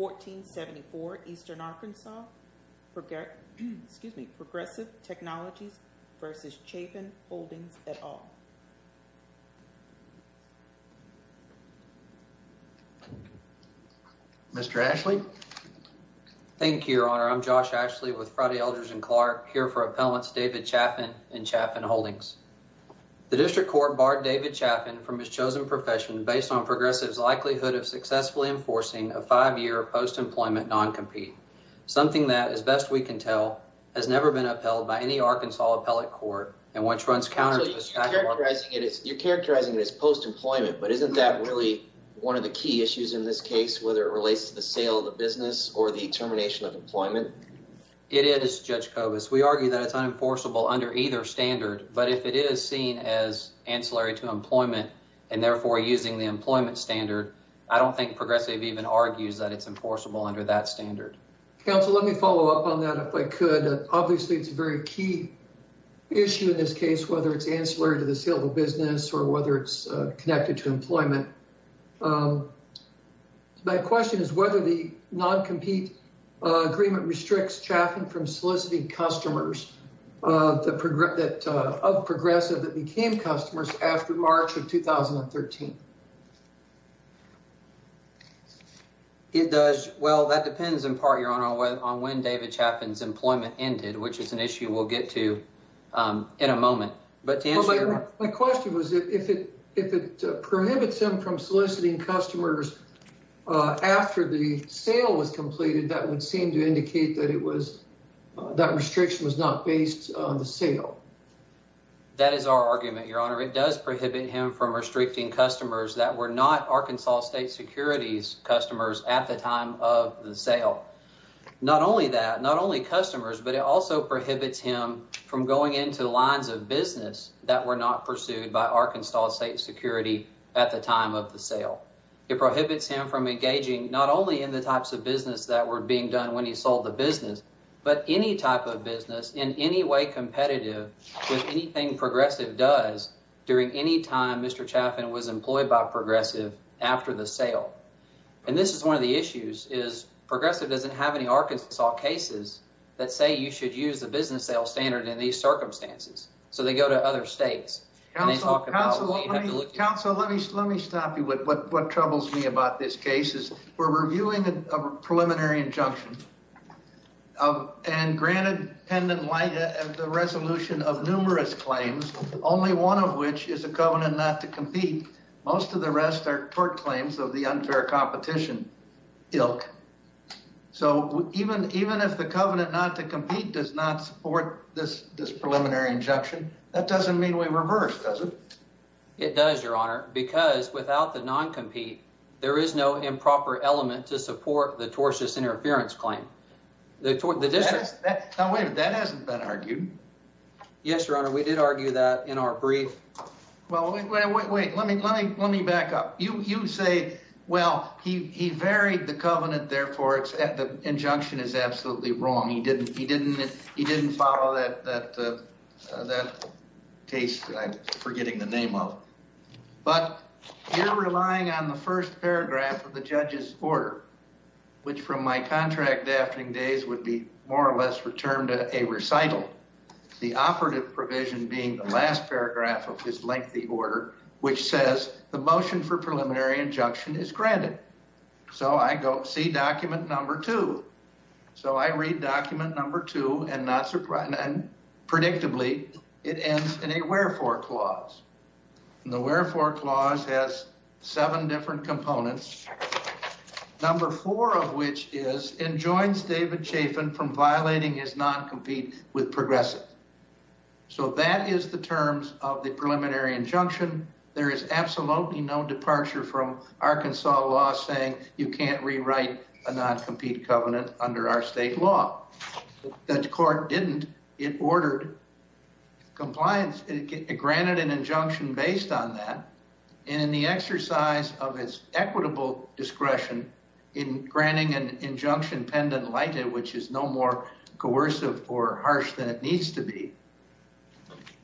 2014-74, Eastern Arkansas, Progressive Technologies v. Chaffin Holdings, et al. Mr. Ashley? Thank you, Your Honor. I'm Josh Ashley with Friday Elders and Clark, here for Appellants David Chaffin and Chaffin Holdings. The District Court barred David Chaffin from his chosen profession based on Progressive's likelihood of successfully enforcing a five-year post-employment non-compete, something that, as best we can tell, has never been upheld by any Arkansas appellate court and once runs counter to the statute... So you're characterizing it as post-employment, but isn't that really one of the key issues in this case, whether it relates to the sale of the business or the termination of employment? It is, Judge Kobus. We argue that it's unenforceable under either standard, but if it is seen as ancillary to employment and therefore using the employment standard, I don't think Progressive even argues that it's enforceable under that standard. Counsel, let me follow up on that, if I could. Obviously, it's a very key issue in this case, whether it's ancillary to the sale of a business or whether it's connected to employment. My question is whether the non-compete agreement restricts Chaffin from soliciting customers of Progressive that became customers after March of 2013. It does. Well, that depends in part, Your Honor, on when David Chaffin's employment ended, which is an issue we'll get to in a moment. My question was if it prohibits him from soliciting customers after the sale was completed, that would seem to indicate that restriction was not based on the sale. That is our argument, Your Honor. It does prohibit him from restricting customers that were not Arkansas State Security's customers at the time of the sale. Not only that, not only customers, but it also prohibits him from going into lines of business that were not pursued by Arkansas State Security at the time of the sale. It prohibits him from engaging not only in the types of business that were being done when he sold the business, but any type of business in any way competitive with anything Progressive does during any time Mr. Chaffin was employed by Progressive after the sale. And this is one of the issues, is Progressive doesn't have any Arkansas cases that say you should use the business sale standard in these circumstances. So they go to other states. Counsel, let me stop you with what troubles me about this case. We're reviewing a preliminary injunction and granted the resolution of numerous claims, only one of which is a covenant not to compete. Most of the rest are court claims of the unfair competition ilk. So even if the covenant not to compete does not support this preliminary injunction, that doesn't mean we reverse, does it? It does, Your Honor, because without the non-compete, there is no improper element to support the tortious interference claim. Now wait a minute, that hasn't been argued. Yes, Your Honor, we did argue that in our brief. Well, wait, let me back up. You say, well, he varied the covenant, therefore the injunction is absolutely wrong. He didn't follow that case that I'm forgetting the name of. But you're relying on the first paragraph of the judge's order, which from my contract drafting days would be more or less returned to a recital. The operative provision being the last paragraph of his lengthy order, which says the motion for preliminary injunction is granted. So I go see document number two. So I read document number two and not surprisingly, predictably, it ends in a wherefore clause. The wherefore clause has seven different components, number four of which is enjoins David Chafin from violating his non-compete with progressive. So that is the terms of the preliminary injunction. There is absolutely no departure from Arkansas law saying you can't rewrite a non-compete covenant under our state law. The court didn't. It ordered compliance. It granted an injunction based on that. And in the exercise of its equitable discretion in granting an injunction pendent lighted, which is no more coercive or harsh than it needs to be.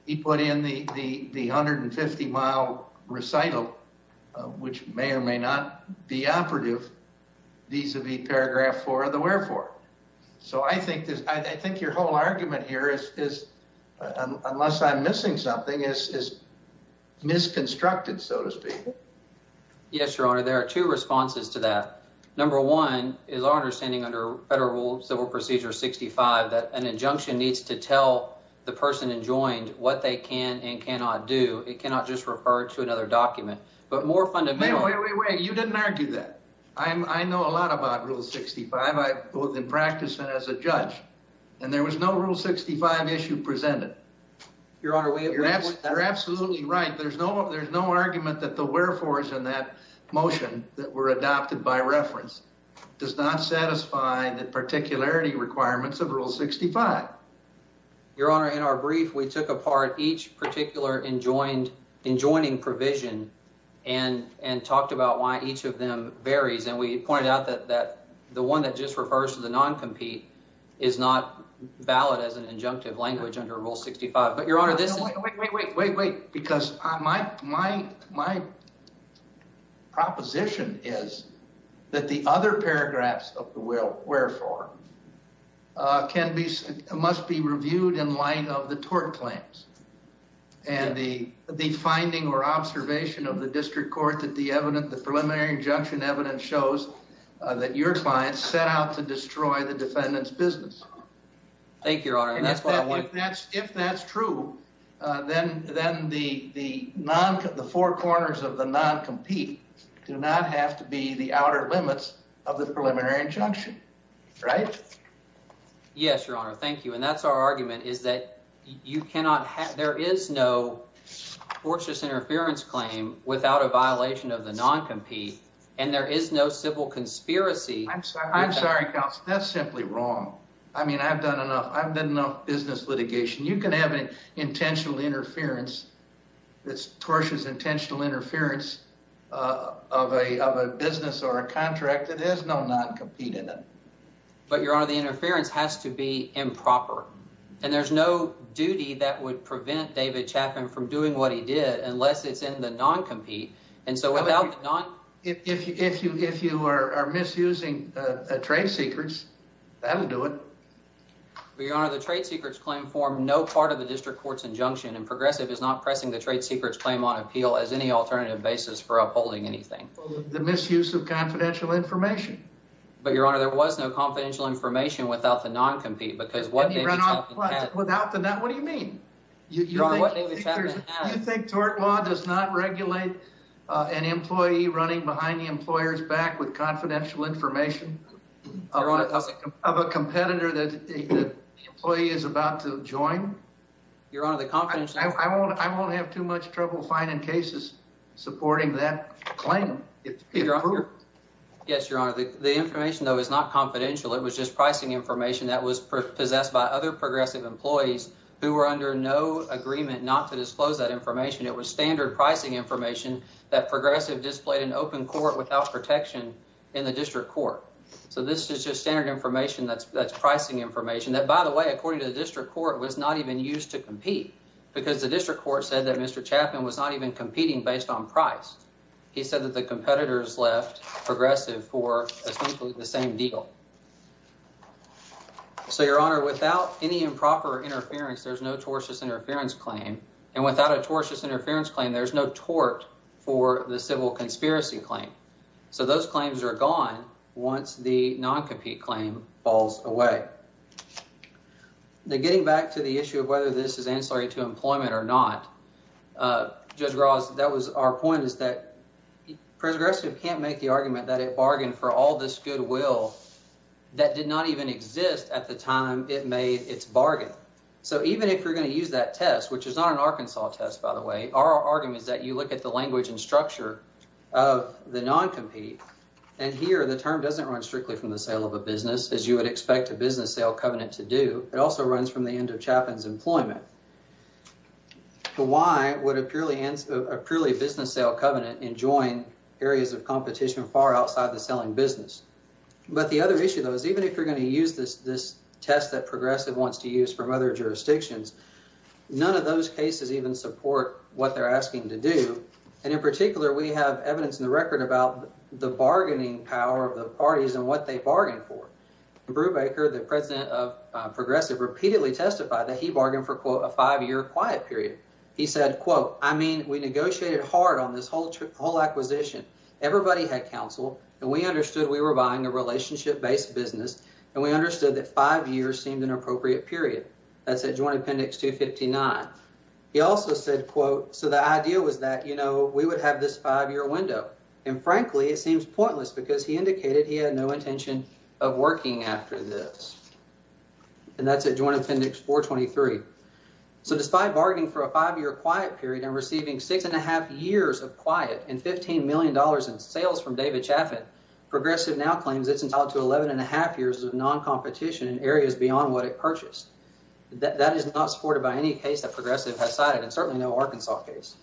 He put in the 150-mile recital, which may or may not be operative vis-a-vis paragraph four of the wherefore. So I think your whole argument here is, unless I'm missing something, is misconstructed, so to speak. Yes, Your Honor. There are two responses to that. Number one is our understanding under Federal Civil Procedure 65 that an injunction needs to tell the person enjoined what they can and cannot do. It cannot just refer to another document. But more fundamentally. Wait, wait, wait. You didn't argue that. I know a lot about Rule 65. I've been practicing as a judge. And there was no Rule 65 issue presented. Your Honor, we agree with that. You're absolutely right. There's no argument that the wherefores in that motion that were adopted by reference does not satisfy the particularity requirements of Rule 65. Your Honor, in our brief, we took apart each particular enjoining provision and talked about why each of them varies. And we pointed out that the one that just refers to the non-compete is not valid as an injunctive language under Rule 65. But, Your Honor, this is— Wait, wait, wait. Because my proposition is that the other paragraphs of the wherefore must be reviewed in light of the tort claims. And the finding or observation of the district court that the preliminary injunction evidence shows that your client set out to destroy the defendant's business. Thank you, Your Honor. And that's what I want— If that's true, then the four corners of the non-compete do not have to be the outer limits of the preliminary injunction. Right? Yes, Your Honor. Thank you. And that's our argument, is that you cannot have—there is no tortious interference claim without a violation of the non-compete. And there is no civil conspiracy. I'm sorry, counsel. That's simply wrong. I mean, I've done enough. I've done enough business litigation. You can have an intentional interference that's tortious, intentional interference of a business or a contract that has no non-compete in it. But, Your Honor, the interference has to be improper. And there's no duty that would prevent David Chapman from doing what he did unless it's in the non-compete. And so without the non— If you are misusing trade secrets, that'll do it. But, Your Honor, the trade secrets claim formed no part of the district court's injunction. And Progressive is not pressing the trade secrets claim on appeal as any alternative basis for upholding anything. The misuse of confidential information. But, Your Honor, there was no confidential information without the non-compete because what David Chapman had— Without the non—what do you mean? Your Honor, what David Chapman had— You think tort law does not regulate an employee running behind the employer's back with confidential information of a competitor that the employee is about to join? Your Honor, the confidential— I won't have too much trouble finding cases supporting that claim. Yes, Your Honor. The information, though, is not confidential. It was just pricing information that was possessed by other Progressive employees who were under no agreement not to disclose that information. It was standard pricing information that Progressive displayed in open court without protection in the district court. So this is just standard information that's pricing information that, by the way, according to the district court, was not even used to compete. Because the district court said that Mr. Chapman was not even competing based on price. He said that the competitors left Progressive for essentially the same deal. So, Your Honor, without any improper interference, there's no tortious interference claim. And without a tortious interference claim, there's no tort for the civil conspiracy claim. So those claims are gone once the non-compete claim falls away. Now, getting back to the issue of whether this is ancillary to employment or not, Judge Ross, that was our point is that Progressive can't make the argument that it bargained for all this goodwill that did not even exist at the time it made its bargain. So even if you're going to use that test, which is not an Arkansas test, by the way, our argument is that you look at the language and structure of the non-compete. And here, the term doesn't run strictly from the sale of a business, as you would expect a business sale covenant to do. It also runs from the end of Chapman's employment. Why would a purely business sale covenant enjoin areas of competition far outside the selling business? But the other issue, though, is even if you're going to use this test that Progressive wants to use from other jurisdictions, none of those cases even support what they're asking to do. And in particular, we have evidence in the record about the bargaining power of the parties and what they bargained for. Brubaker, the president of Progressive, repeatedly testified that he bargained for, quote, a five-year quiet period. He said, quote, I mean, we negotiated hard on this whole acquisition. Everybody had counsel, and we understood we were buying a relationship-based business, and we understood that five years seemed an appropriate period. That's at Joint Appendix 259. He also said, quote, so the idea was that, you know, we would have this five-year window. And frankly, it seems pointless because he indicated he had no intention of working after this. And that's at Joint Appendix 423. So despite bargaining for a five-year quiet period and receiving six and a half years of quiet and $15 million in sales from David Chapman, Progressive now claims it's entitled to 11 and a half years of non-competition in areas beyond what it purchased. That is not supported by any case that Progressive has cited, and certainly no Arkansas case.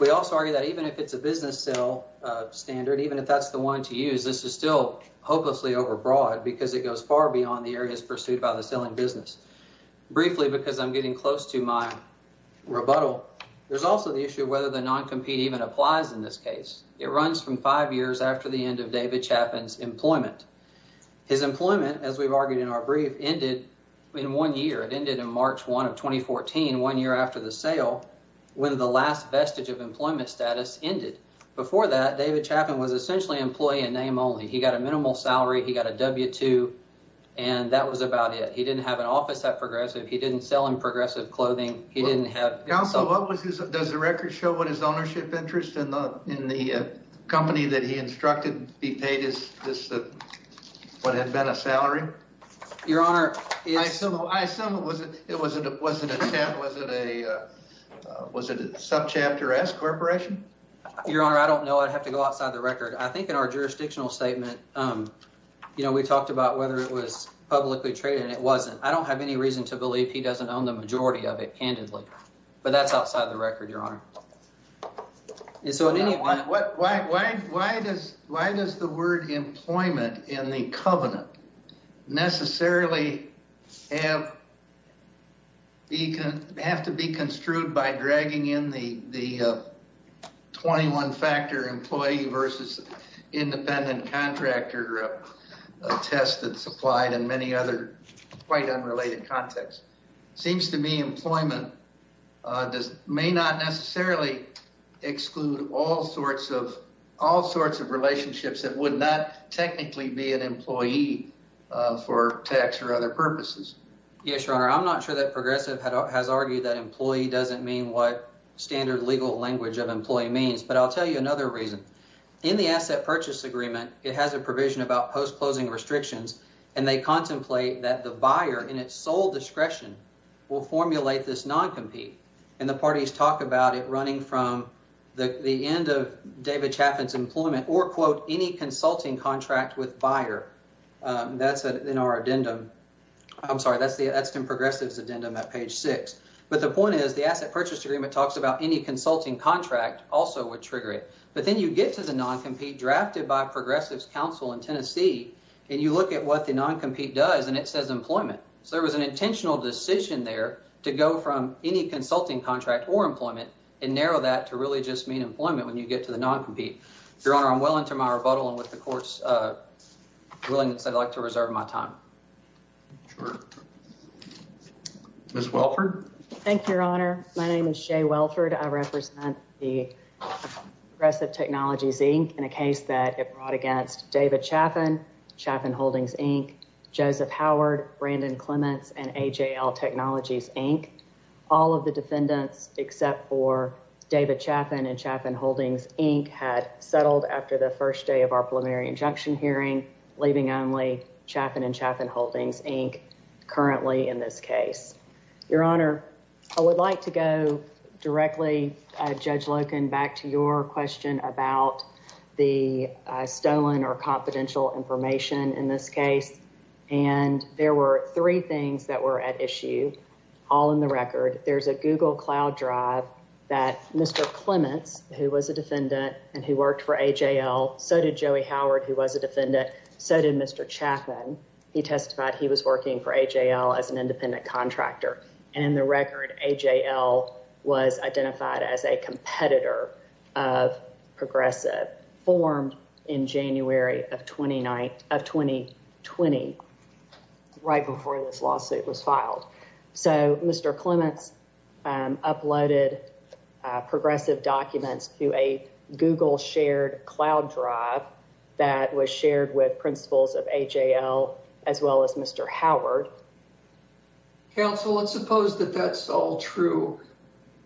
We also argue that even if it's a business sale standard, even if that's the one to use, this is still hopelessly overbroad because it goes far beyond the areas pursued by the selling business. Briefly, because I'm getting close to my rebuttal, there's also the issue of whether the non-compete even applies in this case. It runs from five years after the end of David Chapman's employment. His employment, as we've argued in our brief, ended in one year. It ended in March 1 of 2014, one year after the sale, when the last vestige of employment status ended. Before that, David Chapman was essentially employee in name only. He got a minimal salary. He got a W-2, and that was about it. He didn't have an office at Progressive. He didn't sell in Progressive clothing. Counsel, does the record show what his ownership interest in the company that he instructed be paid is what had been a salary? Your Honor, I don't know. I'd have to go outside the record. I think in our jurisdictional statement, we talked about whether it was publicly traded, and it wasn't. I don't have any reason to believe he doesn't own the majority of it, candidly, but that's outside the record, Your Honor. Why does the word employment in the covenant necessarily have to be construed by dragging in the 21-factor employee versus independent contractor test that's applied in many other quite unrelated contexts? It seems to me employment may not necessarily exclude all sorts of relationships that would not technically be an employee for tax or other purposes. Yes, Your Honor. I'm not sure that Progressive has argued that employee doesn't mean what standard legal language of employee means, but I'll tell you another reason. In the asset purchase agreement, it has a provision about post-closing restrictions, and they contemplate that the buyer, in its sole discretion, will formulate this non-compete. And the parties talk about it running from the end of David Chapman's employment or, quote, any consulting contract with buyer. That's in our addendum. I'm sorry, that's in Progressive's addendum at page six. But the point is, the asset purchase agreement talks about any consulting contract also would trigger it. But then you get to the non-compete drafted by Progressive's counsel in Tennessee, and you look at what the non-compete does, and it says employment. So there was an intentional decision there to go from any consulting contract or employment and narrow that to really just mean employment when you get to the non-compete. Your Honor, I'm well into my rebuttal, and with the Court's willingness, I'd like to reserve my time. Sure. Ms. Welford? Thank you, Your Honor. My name is Jay Welford. I represent the Progressive Technologies, Inc. in a case that it brought against David Chapman, Chapman Holdings, Inc., Joseph Howard, Brandon Clements, and AJL Technologies, Inc. All of the defendants except for David Chapman and Chapman Holdings, Inc. had settled after the first day of our preliminary injunction hearing, leaving only Chapman and Chapman Holdings, Inc. currently in this case. Your Honor, I would like to go directly, Judge Loken, back to your question about the stolen or confidential information in this case. And there were three things that were at issue, all in the record. There's a Google Cloud drive that Mr. Clements, who was a defendant and who worked for AJL, so did Joey Howard, who was a defendant, so did Mr. Chapman. He testified he was working for AJL as an independent contractor. And in the record, AJL was identified as a competitor of Progressive, formed in January of 2020, right before this lawsuit was filed. So Mr. Clements uploaded Progressive documents to a Google shared cloud drive that was shared with principals of AJL as well as Mr. Howard. Counsel, let's suppose that that's all true.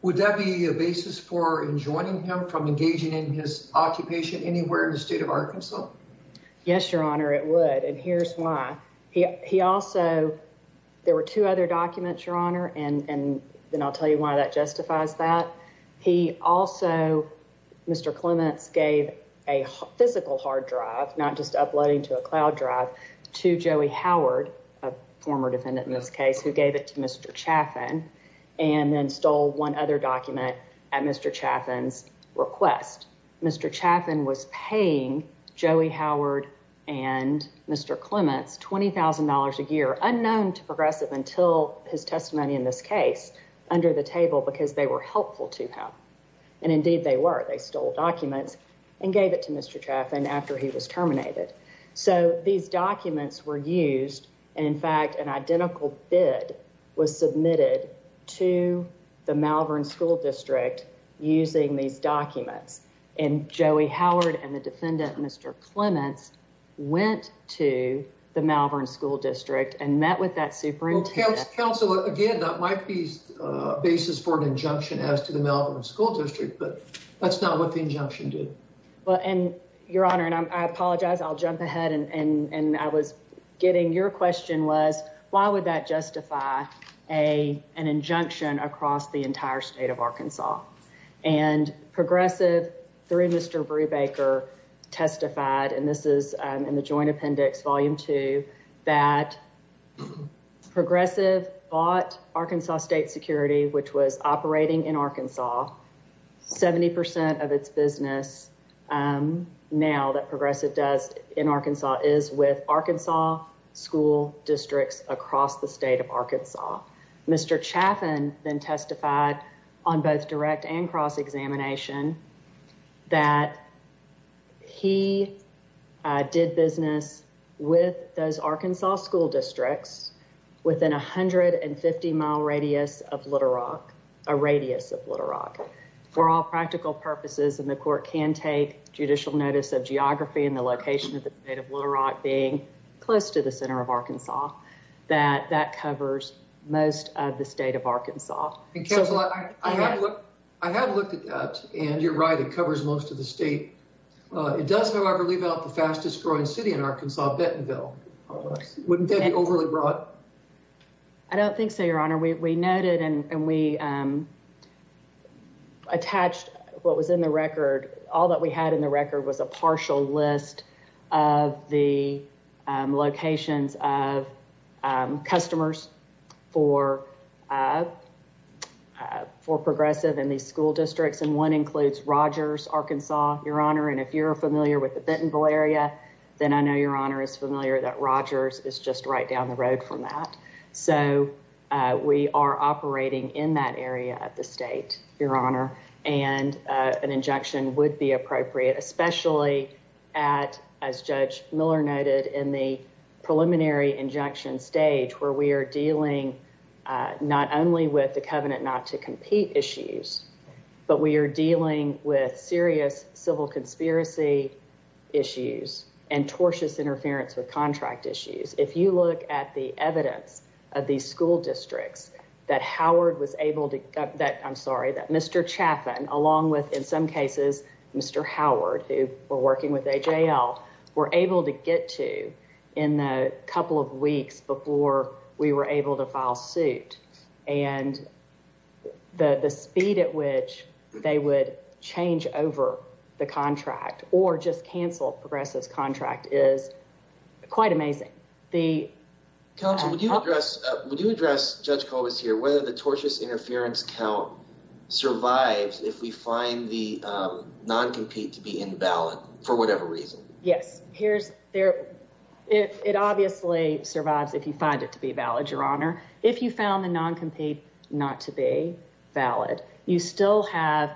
Would that be a basis for enjoining him from engaging in his occupation anywhere in the state of Arkansas? Yes, Your Honor, it would. And here's why. He also, there were two other documents, Your Honor, and then I'll tell you why that justifies that. He also, Mr. Clements gave a physical hard drive, not just uploading to a cloud drive, to Joey Howard, a former defendant in this case, who gave it to Mr. Chapman, and then stole one other document at Mr. Chapman's request. Mr. Chapman was paying Joey Howard and Mr. Clements $20,000 a year, unknown to Progressive until his testimony in this case, under the table because they were helpful to him. And indeed they were. They stole documents and gave it to Mr. Chapman after he was terminated. So these documents were used. In fact, an identical bid was submitted to the Malvern School District using these documents. And Joey Howard and the defendant, Mr. Clements, went to the Malvern School District and met with that superintendent. Counsel, again, that might be a basis for an injunction as to the Malvern School District, but that's not what the injunction did. Well, and Your Honor, and I apologize. I'll jump ahead. And I was getting your question was, why would that justify an injunction across the entire state of Arkansas? And Progressive, through Mr. Brubaker, testified, and this is in the Joint Appendix, Volume 2, that Progressive bought Arkansas State Security, which was operating in Arkansas. 70% of its business now that Progressive does in Arkansas is with Arkansas school districts across the state of Arkansas. Mr. Chapman then testified on both direct and cross examination that he did business with those Arkansas school districts within 150 mile radius of Little Rock, a radius of Little Rock. For all practical purposes, and the court can take judicial notice of geography and the location of the state of Little Rock being close to the center of Arkansas, that that covers most of the state of Arkansas. Counsel, I have looked at that, and you're right, it covers most of the state. It does, however, leave out the fastest growing city in Arkansas, Bentonville. Wouldn't that be overly broad? I don't think so, Your Honor. We noted and we attached what was in the record. All that we had in the record was a partial list of the locations of customers for Progressive in these school districts. And one includes Rogers, Arkansas, Your Honor. And if you're familiar with the Bentonville area, then I know Your Honor is familiar that Rogers is just right down the road from that. So we are operating in that area of the state, Your Honor, and an injunction would be appropriate, especially at, as Judge Miller noted in the preliminary injunction stage where we are dealing not only with the covenant not to compete issues, but we are dealing with serious civil conspiracy issues and tortuous interference with contract issues. If you look at the evidence of these school districts that Howard was able to, I'm sorry, that Mr. Chaffin, along with, in some cases, Mr. Howard, who were working with AJL, were able to get to in the couple of weeks before we were able to file suit. And the speed at which they would change over the contract or just cancel Progressive's contract is quite amazing. Counsel, would you address, would you address, Judge Colbis here, whether the tortious interference count survives if we find the non-compete to be invalid for whatever reason? Yes, here's, it obviously survives if you find it to be valid, Your Honor. If you found the non-compete not to be valid, you still have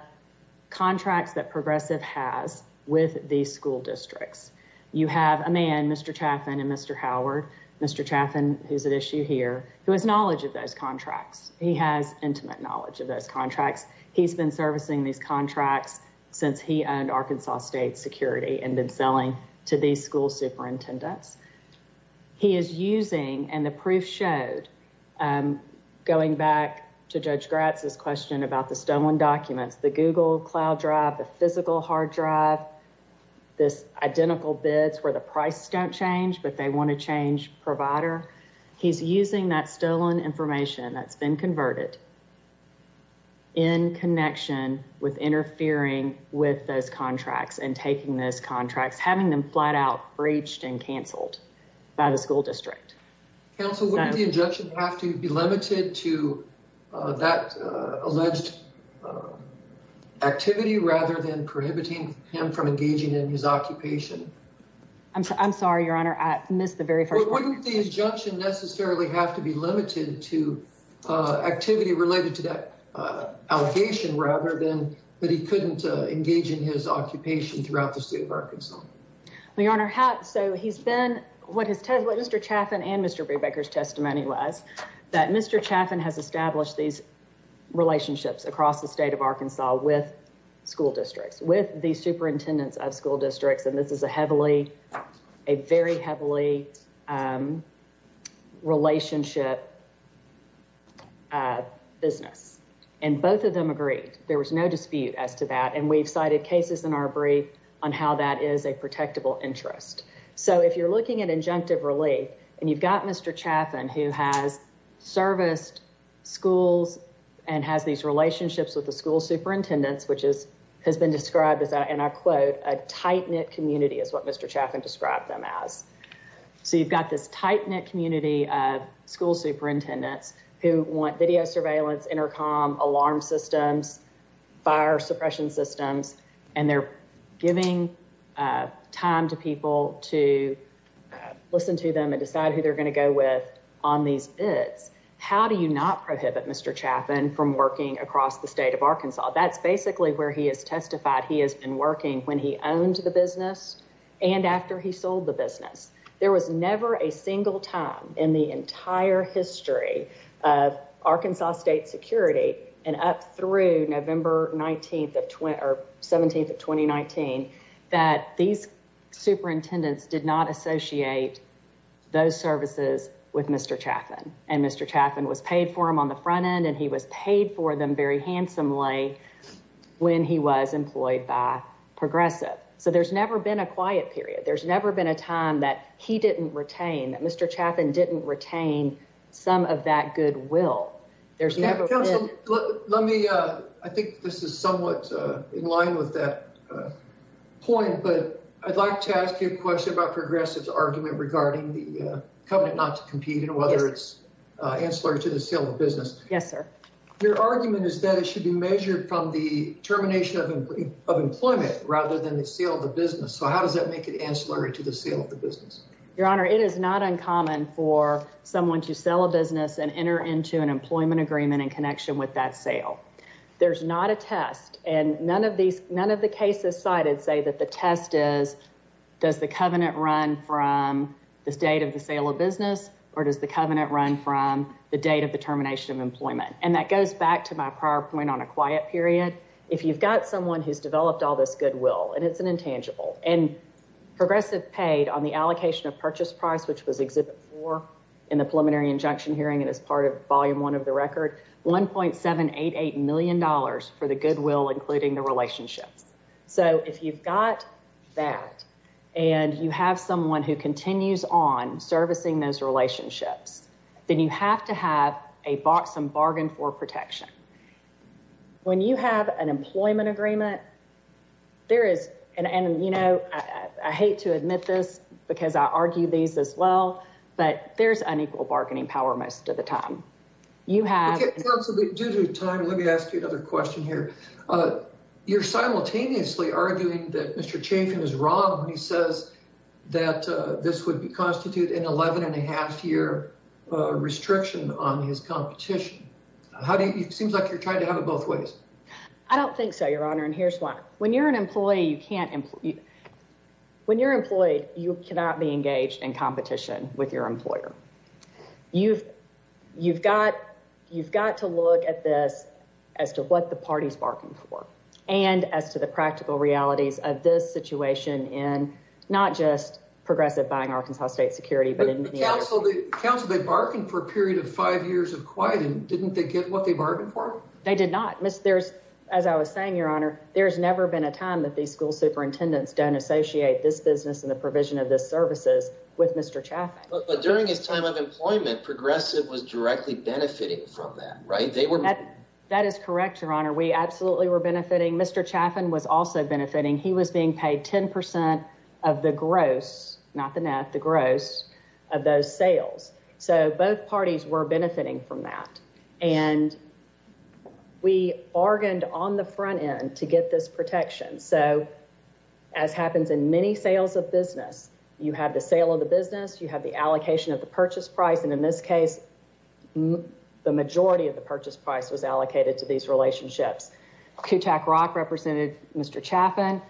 contracts that Progressive has with these school districts. You have a man, Mr. Chaffin and Mr. Howard, Mr. Chaffin, who's at issue here, who has knowledge of those contracts. He has intimate knowledge of those contracts. He's been servicing these contracts since he owned Arkansas State Security and been selling to these school superintendents. He is using, and the proof showed, going back to Judge Gratz's question about the stolen documents, the Google Cloud drive, the physical hard drive, this identical bids where the price don't change, but they want to change provider. He's using that stolen information that's been converted in connection with interfering with those contracts and taking those contracts, having them flat out breached and canceled by the school district. Counsel, wouldn't the injunction have to be limited to that alleged activity rather than prohibiting him from engaging in his occupation? I'm sorry, Your Honor. I missed the very first question. Wouldn't the injunction necessarily have to be limited to activity related to that allegation rather than that he couldn't engage in his occupation throughout the state of Arkansas? Your Honor, so he's been, what Mr. Chaffin and Mr. Brubaker's testimony was, that Mr. Chaffin has established these relationships across the state of Arkansas with school districts, with the superintendents of school districts, and this is a heavily, a very heavily relationship business. And both of them agreed. There was no dispute as to that. And we've cited cases in our brief on how that is a protectable interest. So if you're looking at injunctive relief and you've got Mr. Chaffin, who has serviced schools and has these relationships with the school superintendents, which has been described as, and I quote, a tight knit community is what Mr. Chaffin described them as. So you've got this tight knit community of school superintendents who want video surveillance, intercom, alarm systems, fire suppression systems, and they're giving time to people to listen to them and decide who they're going to go with on these bids. How do you not prohibit Mr. Chaffin from working across the state of Arkansas? That's basically where he has testified he has been working when he owned the business and after he sold the business. There was never a single time in the entire history of Arkansas state security and up through November 19th of 20 or 17th of 2019 that these superintendents did not associate those services with Mr. Chaffin. And Mr. Chaffin was paid for him on the front end and he was paid for them very handsomely when he was employed by Progressive. So there's never been a quiet period. There's never been a time that he didn't retain that Mr. Chaffin didn't retain some of that goodwill. I think this is somewhat in line with that point, but I'd like to ask you a question about Progressive's argument regarding the covenant not to compete and whether it's ancillary to the sale of business. Yes, sir. Your argument is that it should be measured from the termination of employment rather than the sale of the business. So how does that make it ancillary to the sale of the business? Your Honor, it is not uncommon for someone to sell a business and enter into an employment agreement in connection with that sale. There's not a test and none of these none of the cases cited say that the test is does the covenant run from the state of the sale of business or does the covenant run from the date of the termination of employment? And that goes back to my prior point on a quiet period. If you've got someone who's developed all this goodwill and it's an intangible and Progressive paid on the allocation of purchase price, which was Exhibit 4 in the preliminary injunction hearing and as part of Volume 1 of the record, $1.788 million for the goodwill, including the relationships. So if you've got that and you have someone who continues on servicing those relationships, then you have to have a box and bargain for protection. When you have an employment agreement, there is and you know, I hate to admit this because I argue these as well, but there's unequal bargaining power most of the time. Due to time, let me ask you another question here. You're simultaneously arguing that Mr. Chafin is wrong when he says that this would constitute an 11 and a half year restriction on his competition. How do you seems like you're trying to have it both ways? I don't think so, Your Honor, and here's why. When you're an employee, you cannot be engaged in competition with your employer. You've got to look at this as to what the party's barking for and as to the practical realities of this situation in not just Progressive buying Arkansas State Security. But counsel, they barked for a period of five years of quiet and didn't they get what they bargained for? They did not. As I was saying, Your Honor, there's never been a time that these school superintendents don't associate this business and the provision of this services with Mr. Chaffin. But during his time of employment, Progressive was directly benefiting from that, right? We bargained on the front end to get this protection. So as happens in many sales of business, you have the sale of the business, you have the allocation of the purchase price, and in this case, the majority of the purchase price was allocated to these relationships. Kutak Rock represented Mr. Chaffin.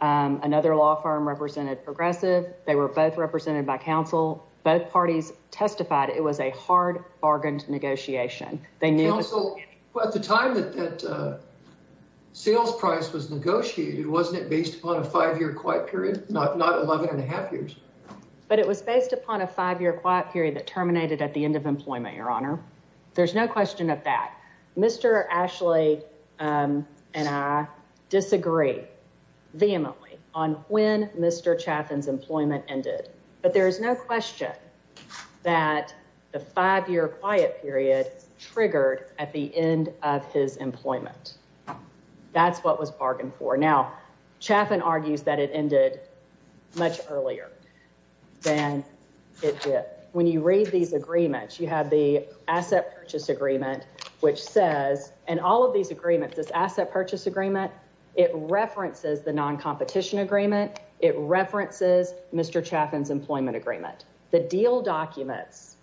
Another law firm represented Progressive. They were both represented by counsel. Both parties testified it was a hard bargained negotiation. But counsel, at the time that that sales price was negotiated, wasn't it based upon a five-year quiet period, not 11 and a half years? But it was based upon a five-year quiet period that terminated at the end of employment, Your Honor. There's no question of that. Mr. Ashley and I disagree vehemently on when Mr. Chaffin's employment ended, but there is no question that the five-year quiet period triggered at the end of his employment. That's what was bargained for. Now, Chaffin argues that it ended much earlier than it did. When you read these agreements, you have the asset purchase agreement, which says, and all of these agreements, this asset purchase agreement, it references the non-competition agreement. It references Mr. Chaffin's employment agreement. The deal documents,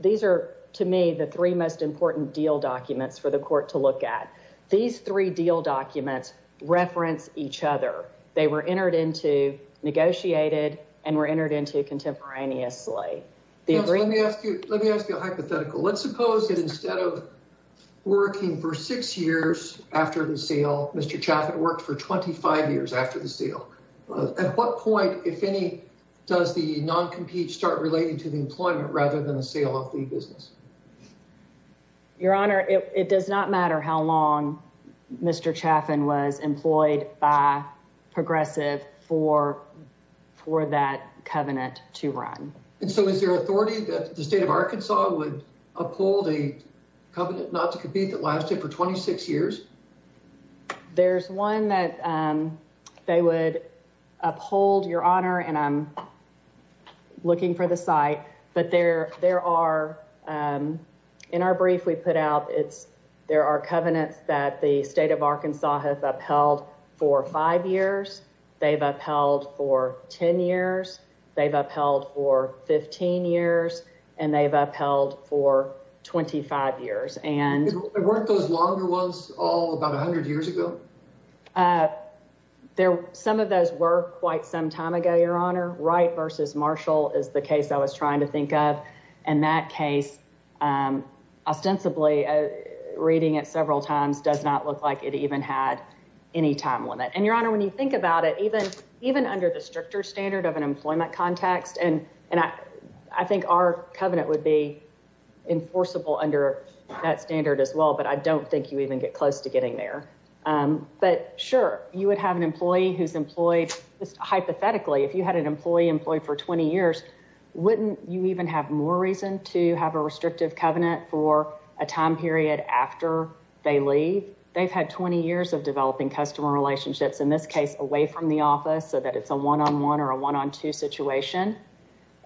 these are, to me, the three most important deal documents for the court to look at. These three deal documents reference each other. They were entered into, negotiated, and were entered into contemporaneously. Let me ask you a hypothetical. Let's suppose that instead of working for six years after the sale, Mr. Chaffin worked for 25 years after the sale. At what point, if any, does the non-compete start relating to the employment rather than the sale of the business? Your Honor, it does not matter how long Mr. Chaffin was employed by Progressive for that covenant to run. And so is there authority that the state of Arkansas would uphold a covenant not to compete that lasted for 26 years? There's one that they would uphold, Your Honor, and I'm looking for the site. But there are, in our brief we put out, there are covenants that the state of Arkansas has upheld for five years. They've upheld for 10 years. They've upheld for 15 years. And they've upheld for 25 years. And weren't those longer ones all about 100 years ago? Some of those were quite some time ago, Your Honor. Wright v. Marshall is the case I was trying to think of. In that case, ostensibly reading it several times does not look like it even had any time limit. And, Your Honor, when you think about it, even under the stricter standard of an employment context, and I think our covenant would be enforceable under that standard as well, but I don't think you even get close to getting there. But, sure, you would have an employee who's employed, hypothetically, if you had an employee employed for 20 years, wouldn't you even have more reason to have a restrictive covenant for a time period after they leave? They've had 20 years of developing customer relationships, in this case away from the office, so that it's a one-on-one or a one-on-two situation.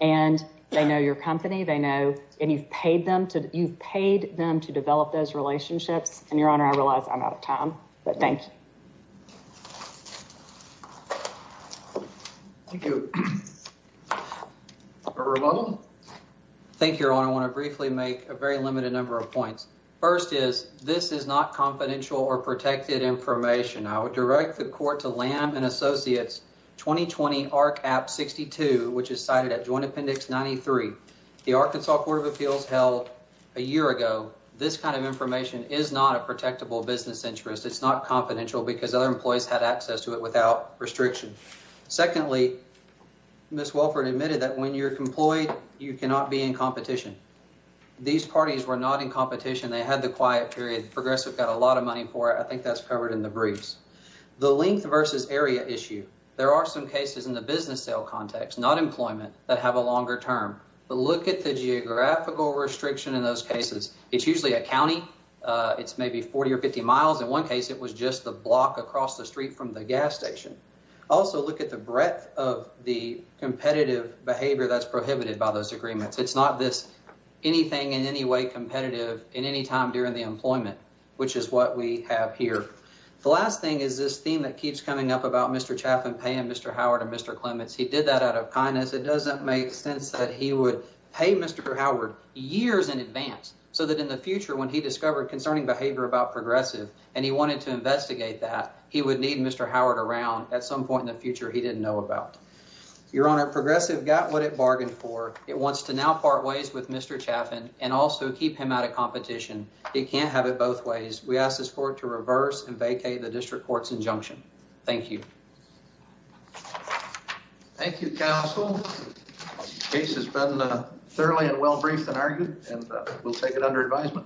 And they know your company. They know, and you've paid them to, you've paid them to develop those relationships. And, Your Honor, I realize I'm out of time, but thank you. Thank you. Thank you, Your Honor. I want to briefly make a very limited number of points. First is, this is not confidential or protected information. I would direct the court to Lamb & Associates 2020 ARC App 62, which is cited at Joint Appendix 93. The Arkansas Court of Appeals held a year ago. This kind of information is not a protectable business interest. It's not confidential because other employees had access to it without restriction. Secondly, Ms. Wolford admitted that when you're employed, you cannot be in competition. These parties were not in competition. They had the quiet period. Progressive got a lot of money for it. I think that's covered in the briefs. The length versus area issue. There are some cases in the business sale context, not employment, that have a longer term. But look at the geographical restriction in those cases. It's usually a county. It's maybe 40 or 50 miles. In one case, it was just the block across the street from the gas station. Also, look at the breadth of the competitive behavior that's prohibited by those agreements. It's not this anything in any way competitive in any time during the employment, which is what we have here. The last thing is this theme that keeps coming up about Mr. Chaffin paying Mr. Howard and Mr. Clements. He did that out of kindness. It doesn't make sense that he would pay Mr. Howard years in advance so that in the future, when he discovered concerning behavior about Progressive and he wanted to investigate that, he would need Mr. Howard around at some point in the future he didn't know about. Your Honor, Progressive got what it bargained for. It wants to now part ways with Mr. Chaffin and also keep him out of competition. It can't have it both ways. We ask this court to reverse and vacate the district court's injunction. Thank you. Thank you, counsel. The case has been thoroughly and well briefed and argued, and we'll take it under advisement.